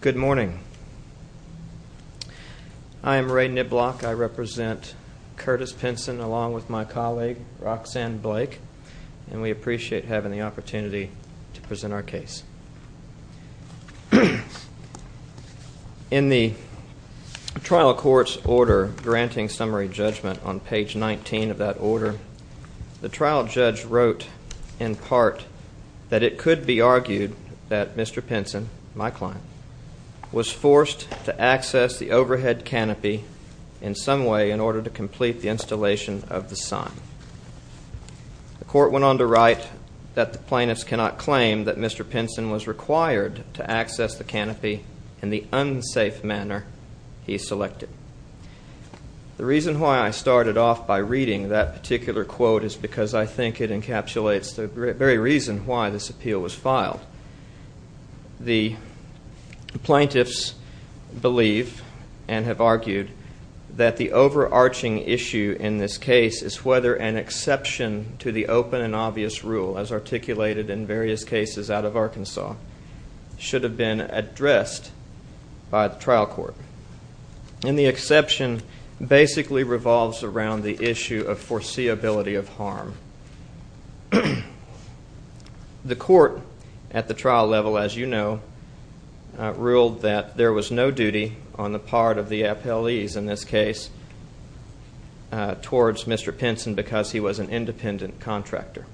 Good morning. I am Ray Niblock. I represent Curtis Pinson along with my colleague Roxanne Blake, and we appreciate having the opportunity to present our case. In the trial court's order granting summary judgment on page 19 of that order, the trial judge wrote, in part, that it could be argued that Mr. Pinson, my client, was forced to access the overhead canopy in some way in order to complete the installation of the sign. The court went on to write that the plaintiffs cannot claim that Mr. Pinson was required to access the canopy in the unsafe manner he selected. The reason why I started off by reading that particular quote is because I think it encapsulates the very reason why this appeal was filed. The plaintiffs believe and have argued that the overarching issue in this case is whether an exception to the open and obvious rule, as articulated in various cases out of Arkansas, should have been addressed by the trial court. And the exception basically revolves around the issue of foreseeability of harm. The court at the trial level, as you know, ruled that there was no duty on the part of the appellees in this case towards Mr. Pinson because he was an independent contractor.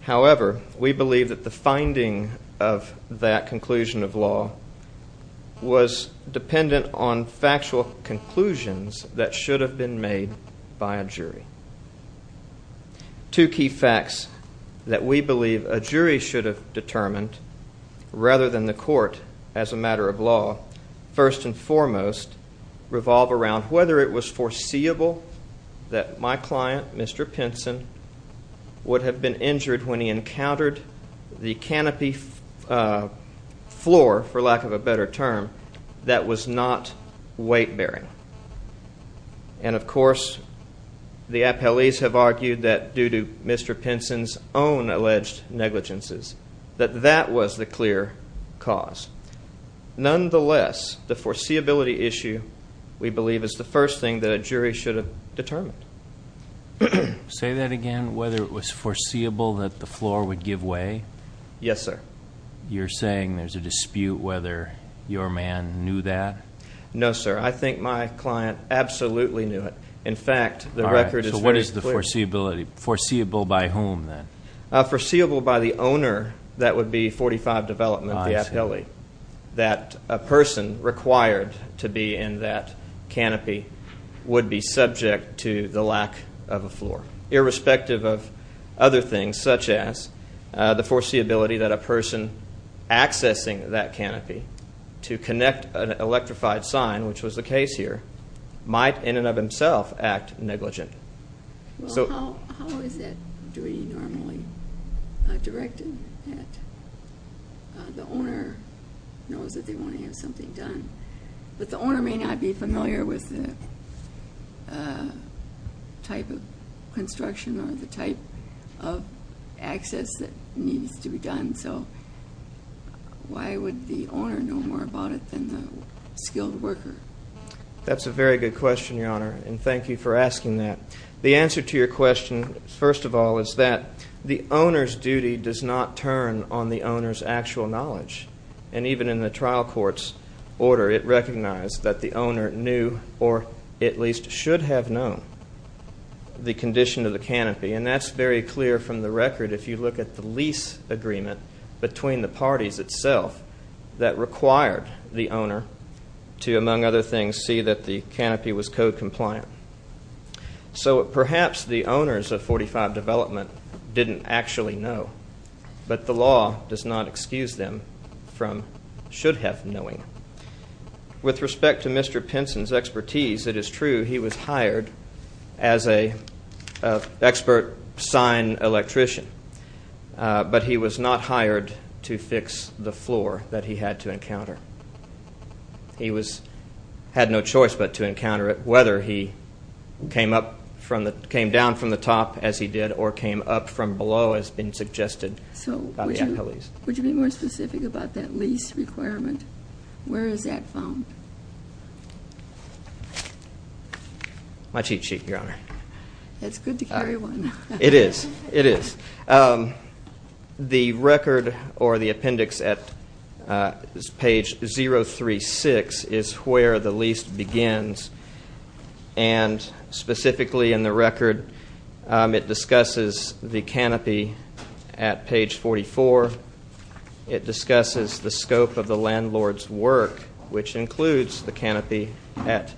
However, we believe that the finding of that conclusion of law was dependent on factual conclusions that should have been made by a jury. Two key facts that we believe a jury should have determined rather than the court as a matter of law, first and foremost, revolve around whether it was foreseeable that my client, Mr. Pinson, would have been injured when he encountered the canopy floor, for lack of a better term, that was not weight-bearing. And, of course, the appellees have argued that, due to Mr. Pinson's own alleged negligences, that that was the clear cause. Nonetheless, the foreseeability issue, we believe, is the first thing that a jury should have determined. Say that again, whether it was foreseeable that the floor would give way? Yes, sir. You're saying there's a dispute whether your man knew that? No, sir. I think my client absolutely knew it. In fact, the record is very clear. All right. So what is the foreseeability? Foreseeable by whom, then? Foreseeable by the owner, that would be 45 Development, the appellee, that a person required to be in that canopy would be subject to the lack of a floor. Irrespective of other things, such as the foreseeability that a person accessing that canopy to connect an electrified sign, which was the case here, might, in and of himself, act negligent. Well, how is that duty normally directed? The owner knows that they want to have something done. But the owner may not be familiar with the type of construction or the type of access that needs to be done. So why would the owner know more about it than the skilled worker? That's a very good question, Your Honor, and thank you for asking that. The answer to your question, first of all, is that the owner's duty does not turn on the owner's actual knowledge. And even in the trial court's order, it recognized that the owner knew or at least should have known the condition of the canopy. And that's very clear from the record if you look at the lease agreement between the parties itself that required the owner to, among other things, see that the canopy was code compliant. So perhaps the owners of 45 Development didn't actually know. But the law does not excuse them from should have knowing. With respect to Mr. Pinson's expertise, it is true he was hired as an expert sign electrician. But he was not hired to fix the floor that he had to encounter. He had no choice but to encounter it, whether he came down from the top, as he did, or came up from below, as has been suggested. So would you be more specific about that lease requirement? Where is that found? My cheat sheet, Your Honor. It's good to carry one. It is, it is. The record or the appendix at page 036 is where the lease begins. And specifically in the record, it discusses the canopy at page 44. It discusses the scope of the landlord's work, which includes the canopy at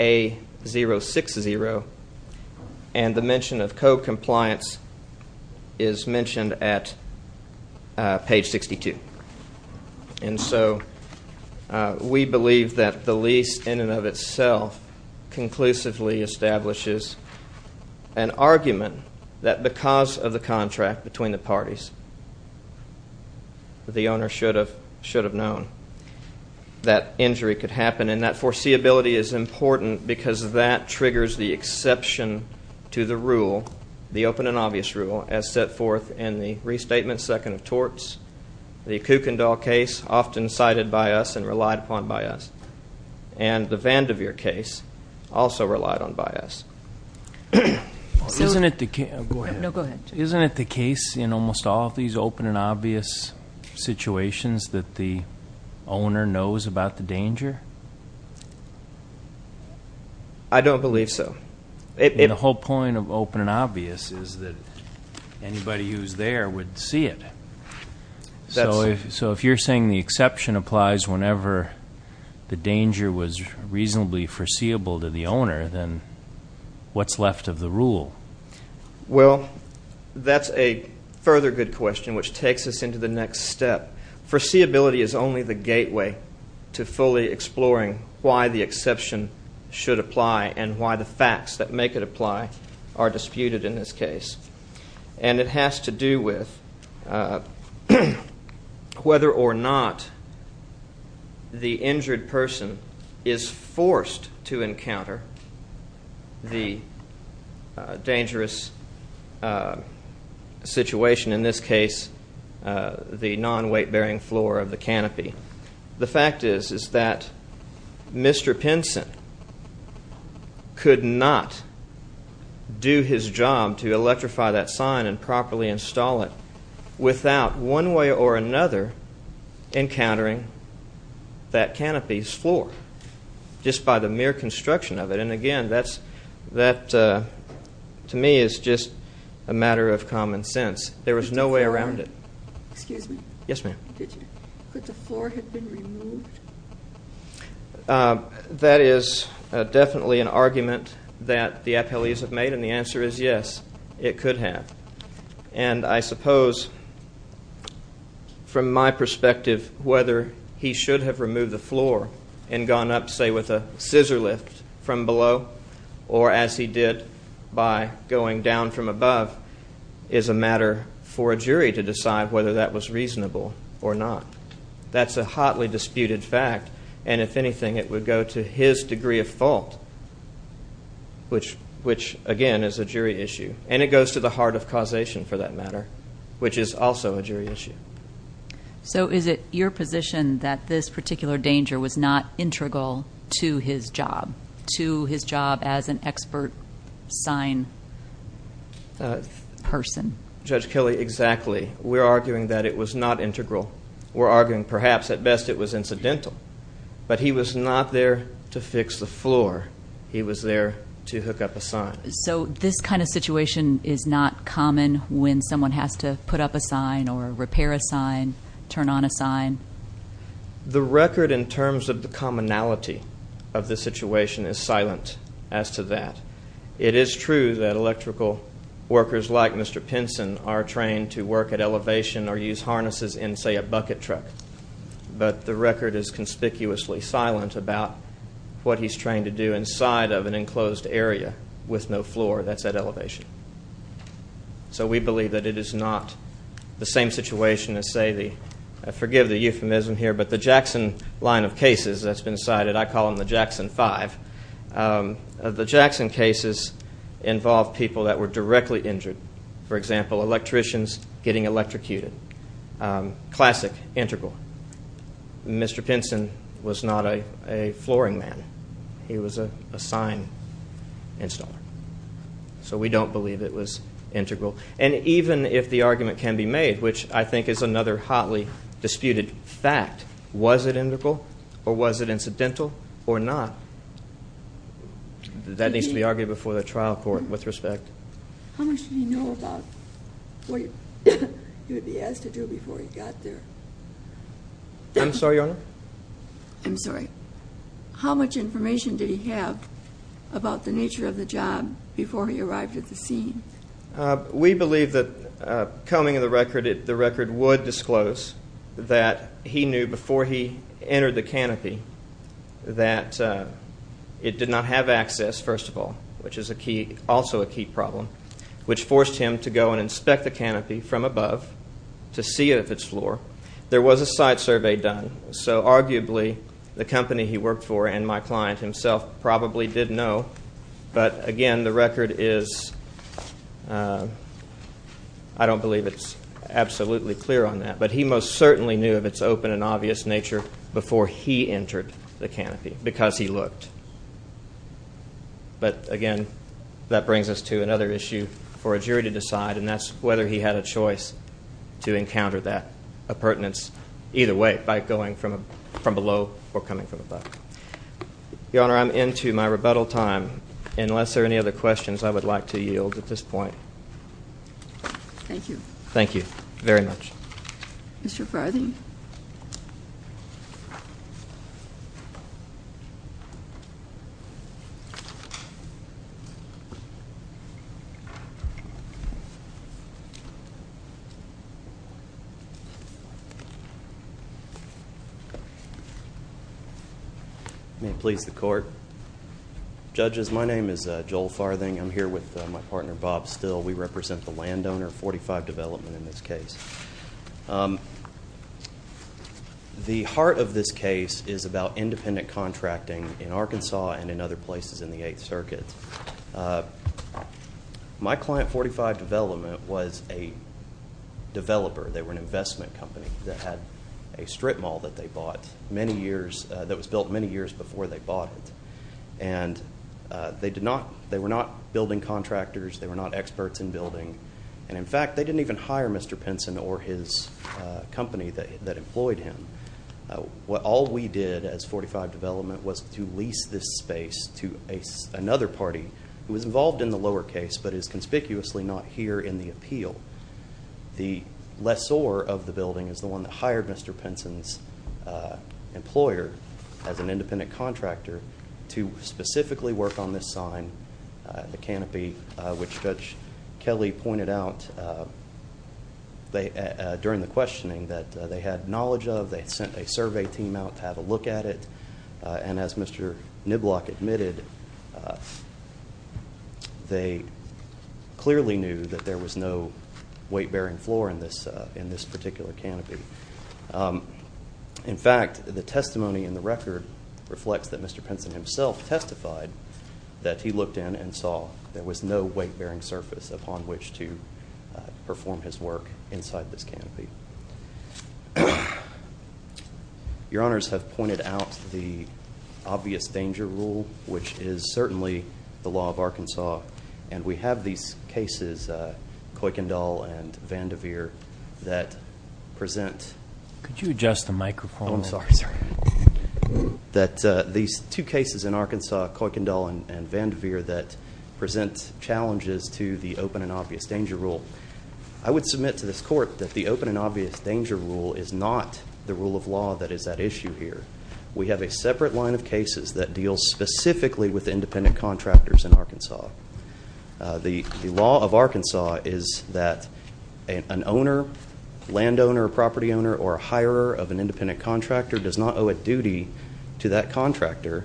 A060. And the mention of code compliance is mentioned at page 62. And so we believe that the lease in and of itself conclusively establishes an argument that because of the contract between the parties, the owner should have known that injury could happen. And that foreseeability is important because that triggers the exception to the rule, the open and obvious rule, as set forth in the Restatement Second of Torts, the Kuykendall case, often cited by us and relied upon by us, and the Vanderveer case, also relied on by us. Go ahead. No, go ahead. Isn't it the case in almost all of these open and obvious situations that the owner knows about the danger? I don't believe so. The whole point of open and obvious is that anybody who's there would see it. So if you're saying the exception applies whenever the danger was reasonably foreseeable to the owner, then what's left of the rule? Well, that's a further good question, which takes us into the next step. Foreseeability is only the gateway to fully exploring why the exception should apply and why the facts that make it apply are disputed in this case. And it has to do with whether or not the injured person is forced to encounter the dangerous situation, in this case the non-weight-bearing floor of the canopy. The fact is that Mr. Pinson could not do his job to electrify that sign and properly install it without one way or another encountering that canopy's floor just by the mere construction of it. And, again, that to me is just a matter of common sense. There was no way around it. Excuse me? Yes, ma'am. Could the floor have been removed? That is definitely an argument that the appellees have made, and the answer is yes, it could have. And I suppose, from my perspective, whether he should have removed the floor and gone up, say, with a scissor lift from below or, as he did, by going down from above, is a matter for a jury to decide whether that was reasonable or not. That's a hotly disputed fact, and, if anything, it would go to his degree of fault, which, again, is a jury issue. And it goes to the heart of causation for that matter, which is also a jury issue. So is it your position that this particular danger was not integral to his job, to his job as an expert sign person? Judge Kelley, exactly. We're arguing that it was not integral. We're arguing perhaps, at best, it was incidental. But he was not there to fix the floor. He was there to hook up a sign. So this kind of situation is not common when someone has to put up a sign or repair a sign, turn on a sign? The record in terms of the commonality of the situation is silent as to that. It is true that electrical workers like Mr. Pinson are trained to work at elevation or use harnesses in, say, a bucket truck. But the record is conspicuously silent about what he's trained to do inside of an enclosed area with no floor that's at elevation. So we believe that it is not the same situation as, say, the Jackson line of cases that's been cited. I call them the Jackson Five. The Jackson cases involve people that were directly injured, for example, electricians getting electrocuted. Classic integral. Mr. Pinson was not a flooring man. He was a sign installer. So we don't believe it was integral. And even if the argument can be made, which I think is another hotly disputed fact, was it integral or was it incidental or not? That needs to be argued before the trial court with respect. How much did he know about what he would be asked to do before he got there? I'm sorry, Your Honor? I'm sorry. How much information did he have about the nature of the job before he arrived at the scene? We believe that coming of the record, the record would disclose that he knew before he entered the canopy that it did not have access, first of all, which is also a key problem, which forced him to go and inspect the canopy from above to see if it's floor. There was a site survey done, so arguably the company he worked for and my client himself probably did know. But, again, the record is – I don't believe it's absolutely clear on that. But he most certainly knew of its open and obvious nature before he entered the canopy because he looked. But, again, that brings us to another issue for a jury to decide, and that's whether he had a choice to encounter that appurtenance either way, by going from below or coming from above. Your Honor, I'm into my rebuttal time. Unless there are any other questions, I would like to yield at this point. Thank you. Thank you very much. Mr. Farthing? May it please the Court? Judges, my name is Joel Farthing. I'm here with my partner, Bob Still. We represent the landowner, 45 Development, in this case. The heart of this case is about independent contracting in Arkansas and in other places in the Eighth Circuit. My client, 45 Development, was a developer. They were an investment company that had a strip mall that they bought many years – that was built many years before they bought it. And they did not – they were not building contractors. They were not experts in building. And, in fact, they didn't even hire Mr. Pinson or his company that employed him. All we did as 45 Development was to lease this space to another party who was involved in the lower case, but is conspicuously not here in the appeal. The lessor of the building is the one that hired Mr. Pinson's employer as an independent contractor to specifically work on this sign, the canopy, which Judge Kelly pointed out during the questioning that they had knowledge of. They sent a survey team out to have a look at it. And as Mr. Niblock admitted, they clearly knew that there was no weight-bearing floor in this particular canopy. In fact, the testimony in the record reflects that Mr. Pinson himself testified that he looked in and saw there was no weight-bearing surface upon which to perform his work inside this canopy. Your Honors have pointed out the obvious danger rule, which is certainly the law of Arkansas. And we have these cases, Kuykendall and Vanderveer, that present Could you adjust the microphone? Oh, I'm sorry. That these two cases in Arkansas, Kuykendall and Vanderveer, that present challenges to the open and obvious danger rule. I would submit to this Court that the open and obvious danger rule is not the rule of law that is at issue here. We have a separate line of cases that deal specifically with independent contractors in Arkansas. The law of Arkansas is that an owner, landowner, property owner, or a hirer of an independent contractor does not owe a duty to that contractor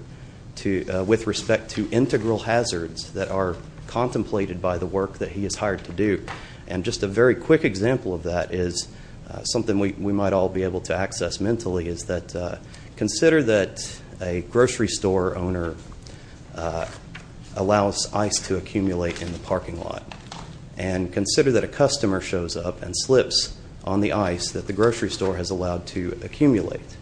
with respect to integral hazards that are contemplated by the work that he is hired to do. And just a very quick example of that is something we might all be able to access mentally, is that consider that a grocery store owner allows ice to accumulate in the parking lot. And consider that a customer shows up and slips on the ice that the grocery store has allowed to accumulate.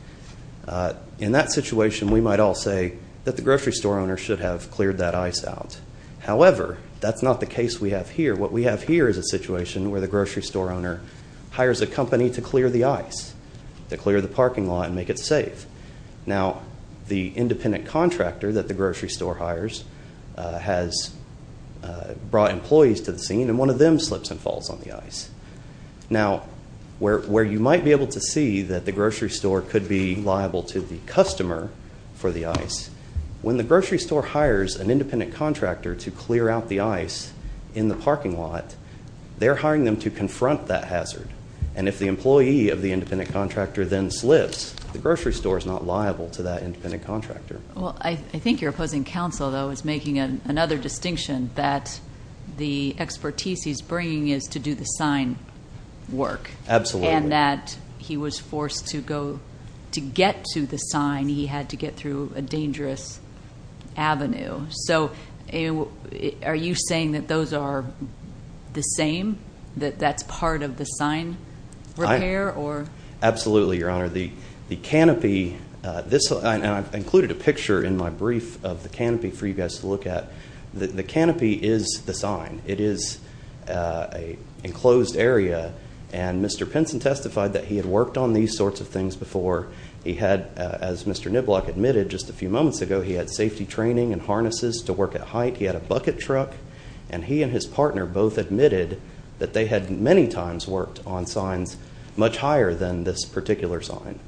In that situation, we might all say that the grocery store owner should have cleared that ice out. However, that's not the case we have here. What we have here is a situation where the grocery store owner hires a company to clear the ice, to clear the parking lot and make it safe. Now, the independent contractor that the grocery store hires has brought employees to the scene, and one of them slips and falls on the ice. Now, where you might be able to see that the grocery store could be liable to the customer for the ice, when the grocery store hires an independent contractor to clear out the ice in the parking lot, they're hiring them to confront that hazard. And if the employee of the independent contractor then slips, the grocery store is not liable to that independent contractor. Well, I think your opposing counsel, though, is making another distinction that the expertise he's bringing is to do the sign work. Absolutely. And that he was forced to go to get to the sign. He had to get through a dangerous avenue. So are you saying that those are the same, that that's part of the sign repair? Absolutely, Your Honor. The canopy, and I've included a picture in my brief of the canopy for you guys to look at. The canopy is the sign. It is an enclosed area, and Mr. Pinson testified that he had worked on these sorts of things before. He had, as Mr. Niblock admitted just a few moments ago, he had safety training and harnesses to work at height. He had a bucket truck. And he and his partner both admitted that they had many times worked on signs much higher than this particular sign.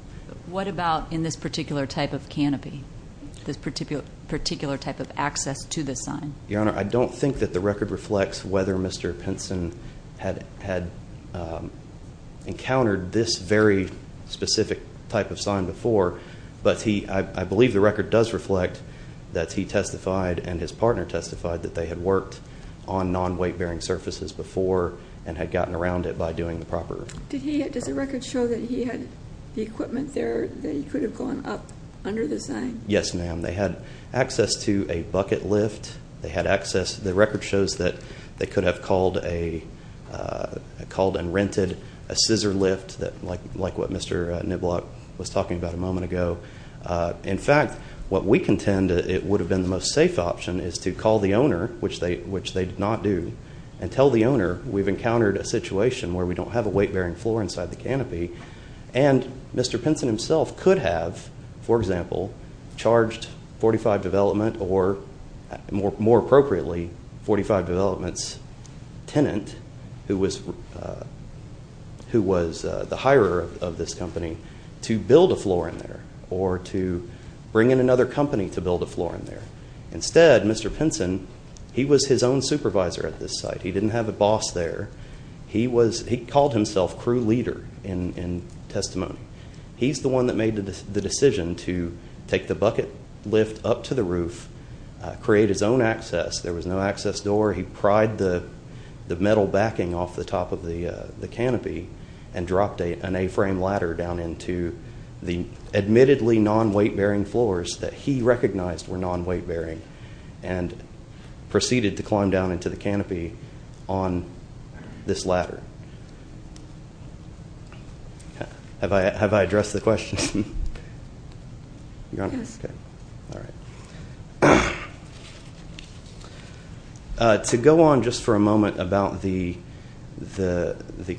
What about in this particular type of canopy, this particular type of access to the sign? Your Honor, I don't think that the record reflects whether Mr. Pinson had encountered this very specific type of sign before. But I believe the record does reflect that he testified and his partner testified that they had worked on non-weight-bearing surfaces before and had gotten around it by doing the proper work. Does the record show that he had the equipment there that he could have gone up under the sign? Yes, ma'am. They had access to a bucket lift. They had access. The record shows that they could have called and rented a scissor lift like what Mr. Niblock was talking about a moment ago. In fact, what we contend it would have been the most safe option is to call the owner, which they did not do, and tell the owner we've encountered a situation where we don't have a weight-bearing floor inside the canopy. And Mr. Pinson himself could have, for example, charged 45 Development or, more appropriately, 45 Development's tenant, who was the hirer of this company, to build a floor in there or to bring in another company to build a floor in there. Instead, Mr. Pinson, he was his own supervisor at this site. He didn't have a boss there. He called himself crew leader in testimony. He's the one that made the decision to take the bucket lift up to the roof, create his own access. There was no access door. He pried the metal backing off the top of the canopy and dropped an A-frame ladder down into the admittedly non-weight-bearing floors that he recognized were non-weight-bearing and proceeded to climb down into the canopy on this ladder. Have I addressed the question? Yes. All right. To go on just for a moment about the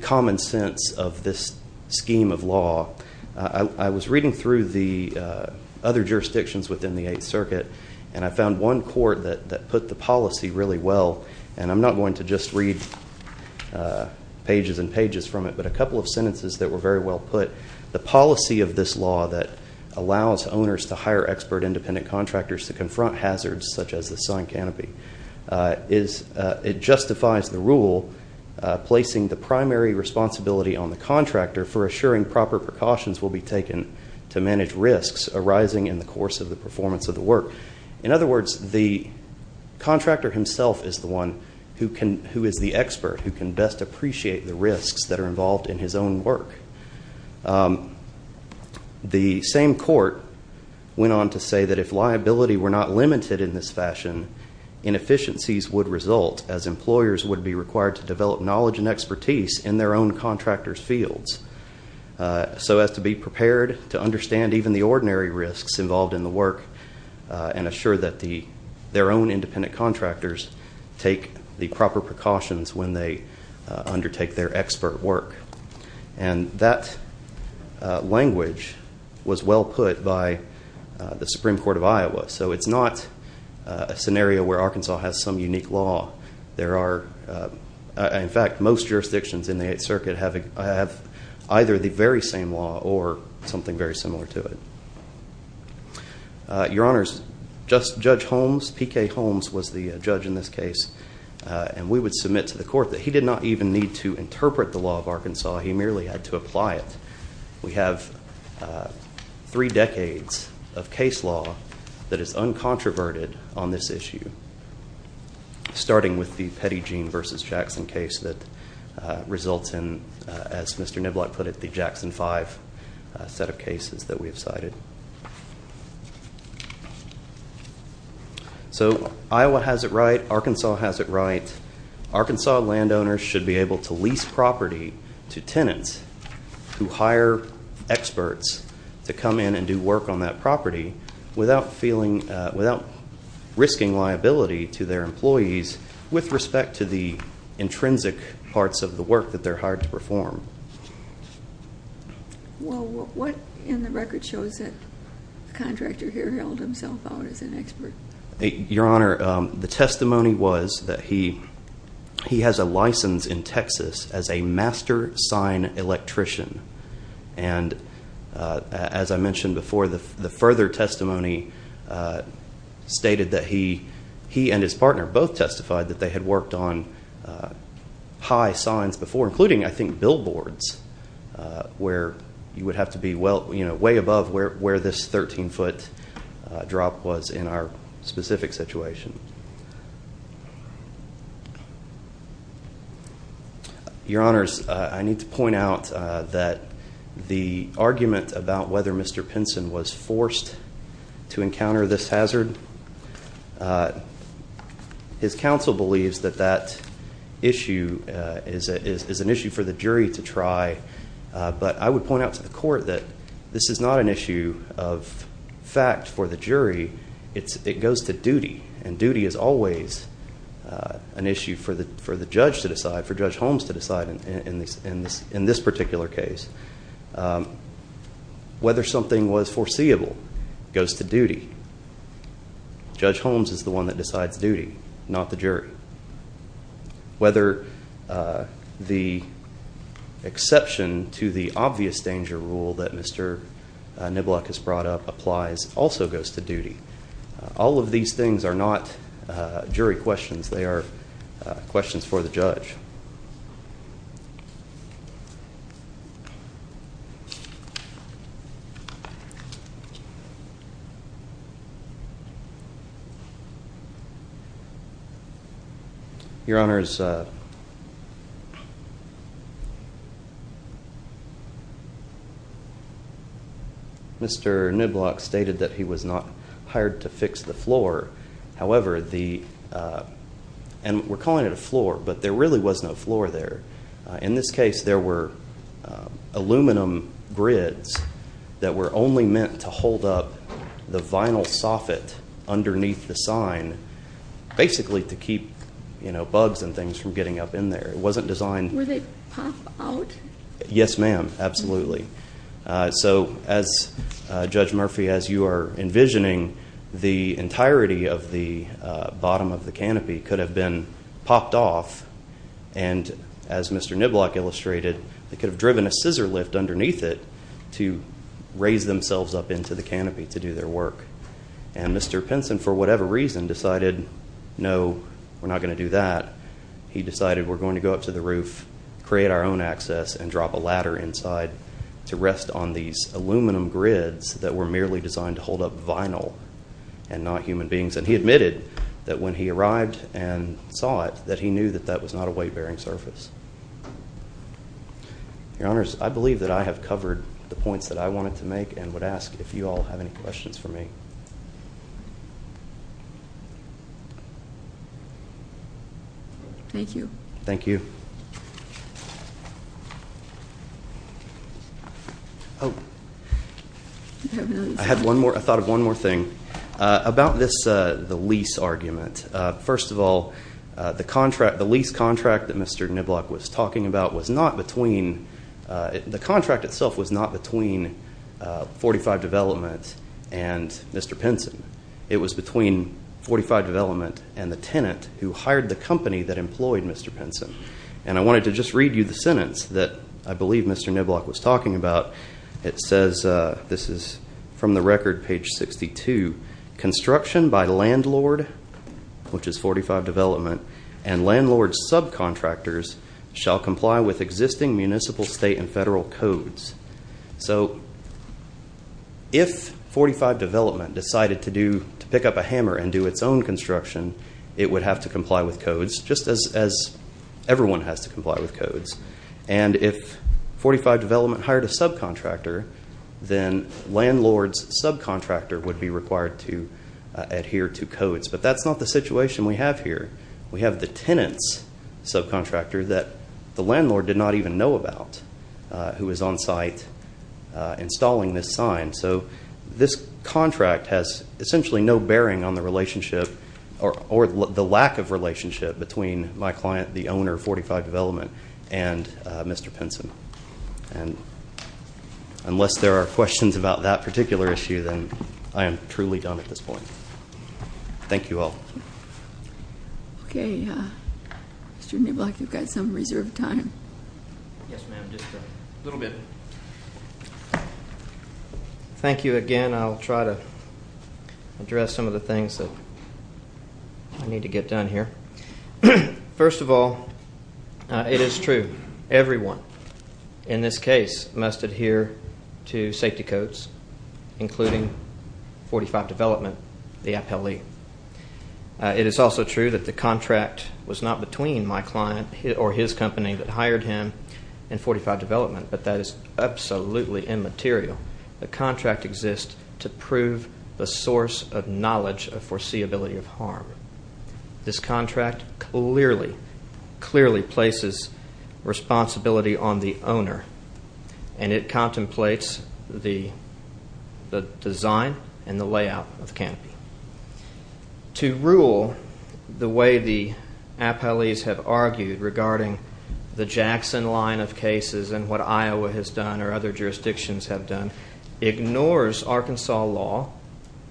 common sense of this scheme of law, I was reading through the other jurisdictions within the Eighth Circuit, and I found one court that put the policy really well. And I'm not going to just read pages and pages from it, but a couple of sentences that were very well put. The policy of this law that allows owners to hire expert independent contractors to confront hazards such as the sun canopy, it justifies the rule placing the primary responsibility on the contractor for assuring proper precautions will be taken to manage risks arising in the course of the performance of the work. In other words, the contractor himself is the one who is the expert, who can best appreciate the risks that are involved in his own work. The same court went on to say that if liability were not limited in this fashion, inefficiencies would result as employers would be required to develop knowledge and expertise in their own contractors' fields, so as to be prepared to understand even the ordinary risks involved in the work and assure that their own independent contractors take the proper precautions when they undertake their expert work. And that language was well put by the Supreme Court of Iowa, so it's not a scenario where Arkansas has some unique law. In fact, most jurisdictions in the Eighth Circuit have either the very same law or something very similar to it. Your Honors, Judge Holmes, P.K. Holmes was the judge in this case, and we would submit to the court that he did not even need to interpret the law of Arkansas. He merely had to apply it. We have three decades of case law that is uncontroverted on this issue, starting with the Pettygene v. Jackson case that results in, as Mr. Niblatt put it, the Jackson 5 set of cases that we have cited. So Iowa has it right. Arkansas has it right. Arkansas landowners should be able to lease property to tenants who hire experts to come in and do work on that property without risking liability to their employees with respect to the intrinsic parts of the work that they're hired to perform. Well, what in the record shows that the contractor here held himself out as an expert? Your Honor, the testimony was that he has a license in Texas as a master sign electrician. And as I mentioned before, the further testimony stated that he and his partner both testified that they had worked on high signs before, including, I think, billboards where you would have to be way above where this 13-foot drop was in our specific situation. Your Honors, I need to point out that the argument about whether Mr. Pinson was forced to encounter this hazard, his counsel believes that that issue is an issue for the jury to try. But I would point out to the court that this is not an issue of fact for the jury. It goes to duty, and duty is always an issue for the judge to decide, for Judge Holmes to decide in this particular case. Whether something was foreseeable goes to duty. Judge Holmes is the one that decides duty, not the jury. Whether the exception to the obvious danger rule that Mr. Niblack has brought up applies also goes to duty. All of these things are not jury questions. They are questions for the judge. Your Honors, Mr. Niblack stated that he was not hired to fix the floor. However, and we're calling it a floor, but there really was no floor there. In this case, there were aluminum grids that were only meant to hold up the vinyl soffit underneath the sign, basically to keep bugs and things from getting up in there. It wasn't designed- Were they popped out? Yes, ma'am, absolutely. So, Judge Murphy, as you are envisioning, the entirety of the bottom of the canopy could have been popped off, and as Mr. Niblack illustrated, they could have driven a scissor lift underneath it to raise themselves up into the canopy to do their work. And Mr. Pinson, for whatever reason, decided no, we're not going to do that. He decided we're going to go up to the roof, create our own access, and drop a ladder inside to rest on these aluminum grids that were merely designed to hold up vinyl and not human beings. And he admitted that when he arrived and saw it, that he knew that that was not a weight-bearing surface. Your Honors, I believe that I have covered the points that I wanted to make and would ask if you all have any questions for me. Thank you. Thank you. Oh, I thought of one more thing. About the lease argument. First of all, the lease contract that Mr. Niblack was talking about was not between, the contract itself was not between 45 Development and Mr. Pinson. It was between 45 Development and the tenant who hired the company that employed Mr. Pinson. And I wanted to just read you the sentence that I believe Mr. Niblack was talking about. It says, this is from the record, page 62, construction by landlord, which is 45 Development, and landlord subcontractors shall comply with existing municipal, state, and federal codes. So if 45 Development decided to pick up a hammer and do its own construction, it would have to comply with codes, just as everyone has to comply with codes. And if 45 Development hired a subcontractor, then landlord's subcontractor would be required to adhere to codes. But that's not the situation we have here. We have the tenant's subcontractor that the landlord did not even know about, who was on site installing this sign. So this contract has essentially no bearing on the relationship, or the lack of relationship, between my client, the owner of 45 Development, and Mr. Pinson. And unless there are questions about that particular issue, then I am truly done at this point. Thank you all. Okay, Mr. Niblack, you've got some reserved time. Yes, ma'am, just a little bit. Thank you again. I'll try to address some of the things that I need to get done here. First of all, it is true. Everyone in this case must adhere to safety codes, including 45 Development, the appellee. It is also true that the contract was not between my client or his company that hired him and 45 Development, but that is absolutely immaterial. The contract exists to prove the source of knowledge of foreseeability of harm. This contract clearly, clearly places responsibility on the owner, and it contemplates the design and the layout of the canopy. To rule the way the appellees have argued regarding the Jackson line of cases and what Iowa has done or other jurisdictions have done ignores Arkansas law,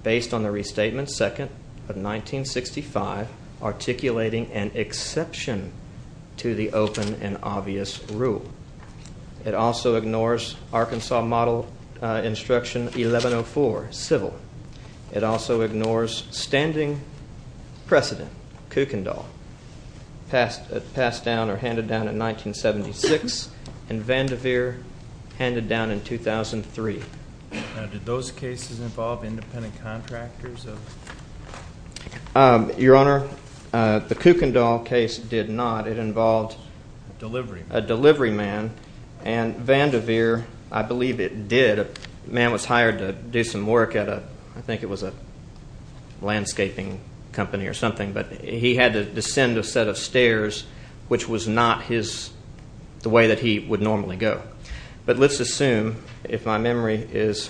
based on the Restatement Second of 1965, articulating an exception to the open and obvious rule. It also ignores Arkansas Model Instruction 1104, civil. It also ignores standing precedent, Kuykendall, passed down or handed down in 1976, and Vanderveer handed down in 2003. Now, did those cases involve independent contractors? Your Honor, the Kuykendall case did not. It involved a delivery man, and Vanderveer, I believe it did. The man was hired to do some work at a, I think it was a landscaping company or something, but he had to descend a set of stairs, which was not the way that he would normally go. But let's assume, if my memory is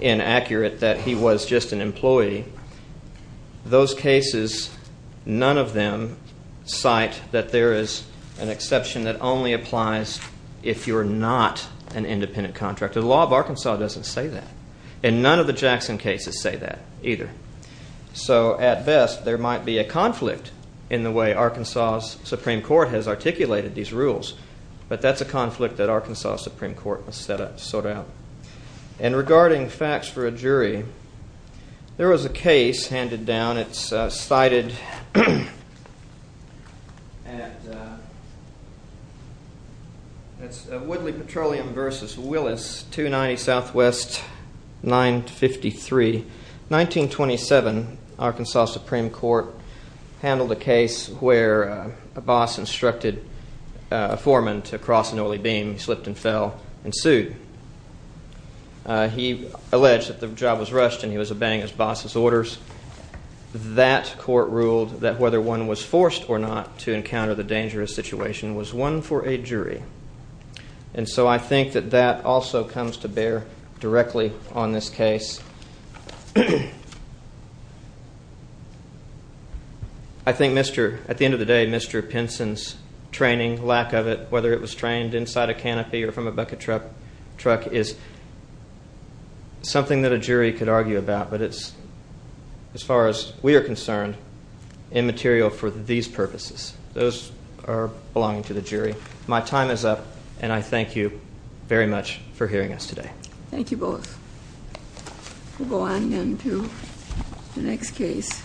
inaccurate, that he was just an employee. Those cases, none of them cite that there is an exception that only applies if you're not an independent contractor. The law of Arkansas doesn't say that, and none of the Jackson cases say that either. So, at best, there might be a conflict in the way Arkansas's Supreme Court has articulated these rules, but that's a conflict that Arkansas's Supreme Court has set up to sort out. And regarding facts for a jury, there was a case handed down. It's cited at Woodley Petroleum v. Willis, 290 SW 953. 1927, Arkansas Supreme Court handled a case where a boss instructed a foreman to cross an oily beam. He slipped and fell and sued. He alleged that the job was rushed and he was obeying his boss's orders. That court ruled that whether one was forced or not to encounter the dangerous situation was one for a jury. And so I think that that also comes to bear directly on this case. I think, at the end of the day, Mr. Pinson's training, lack of it, whether it was trained inside a canopy or from a bucket truck, is something that a jury could argue about, but it's, as far as we are concerned, immaterial for these purposes. Those are belonging to the jury. My time is up, and I thank you very much for hearing us today. Thank you both. We'll go on then to the next case.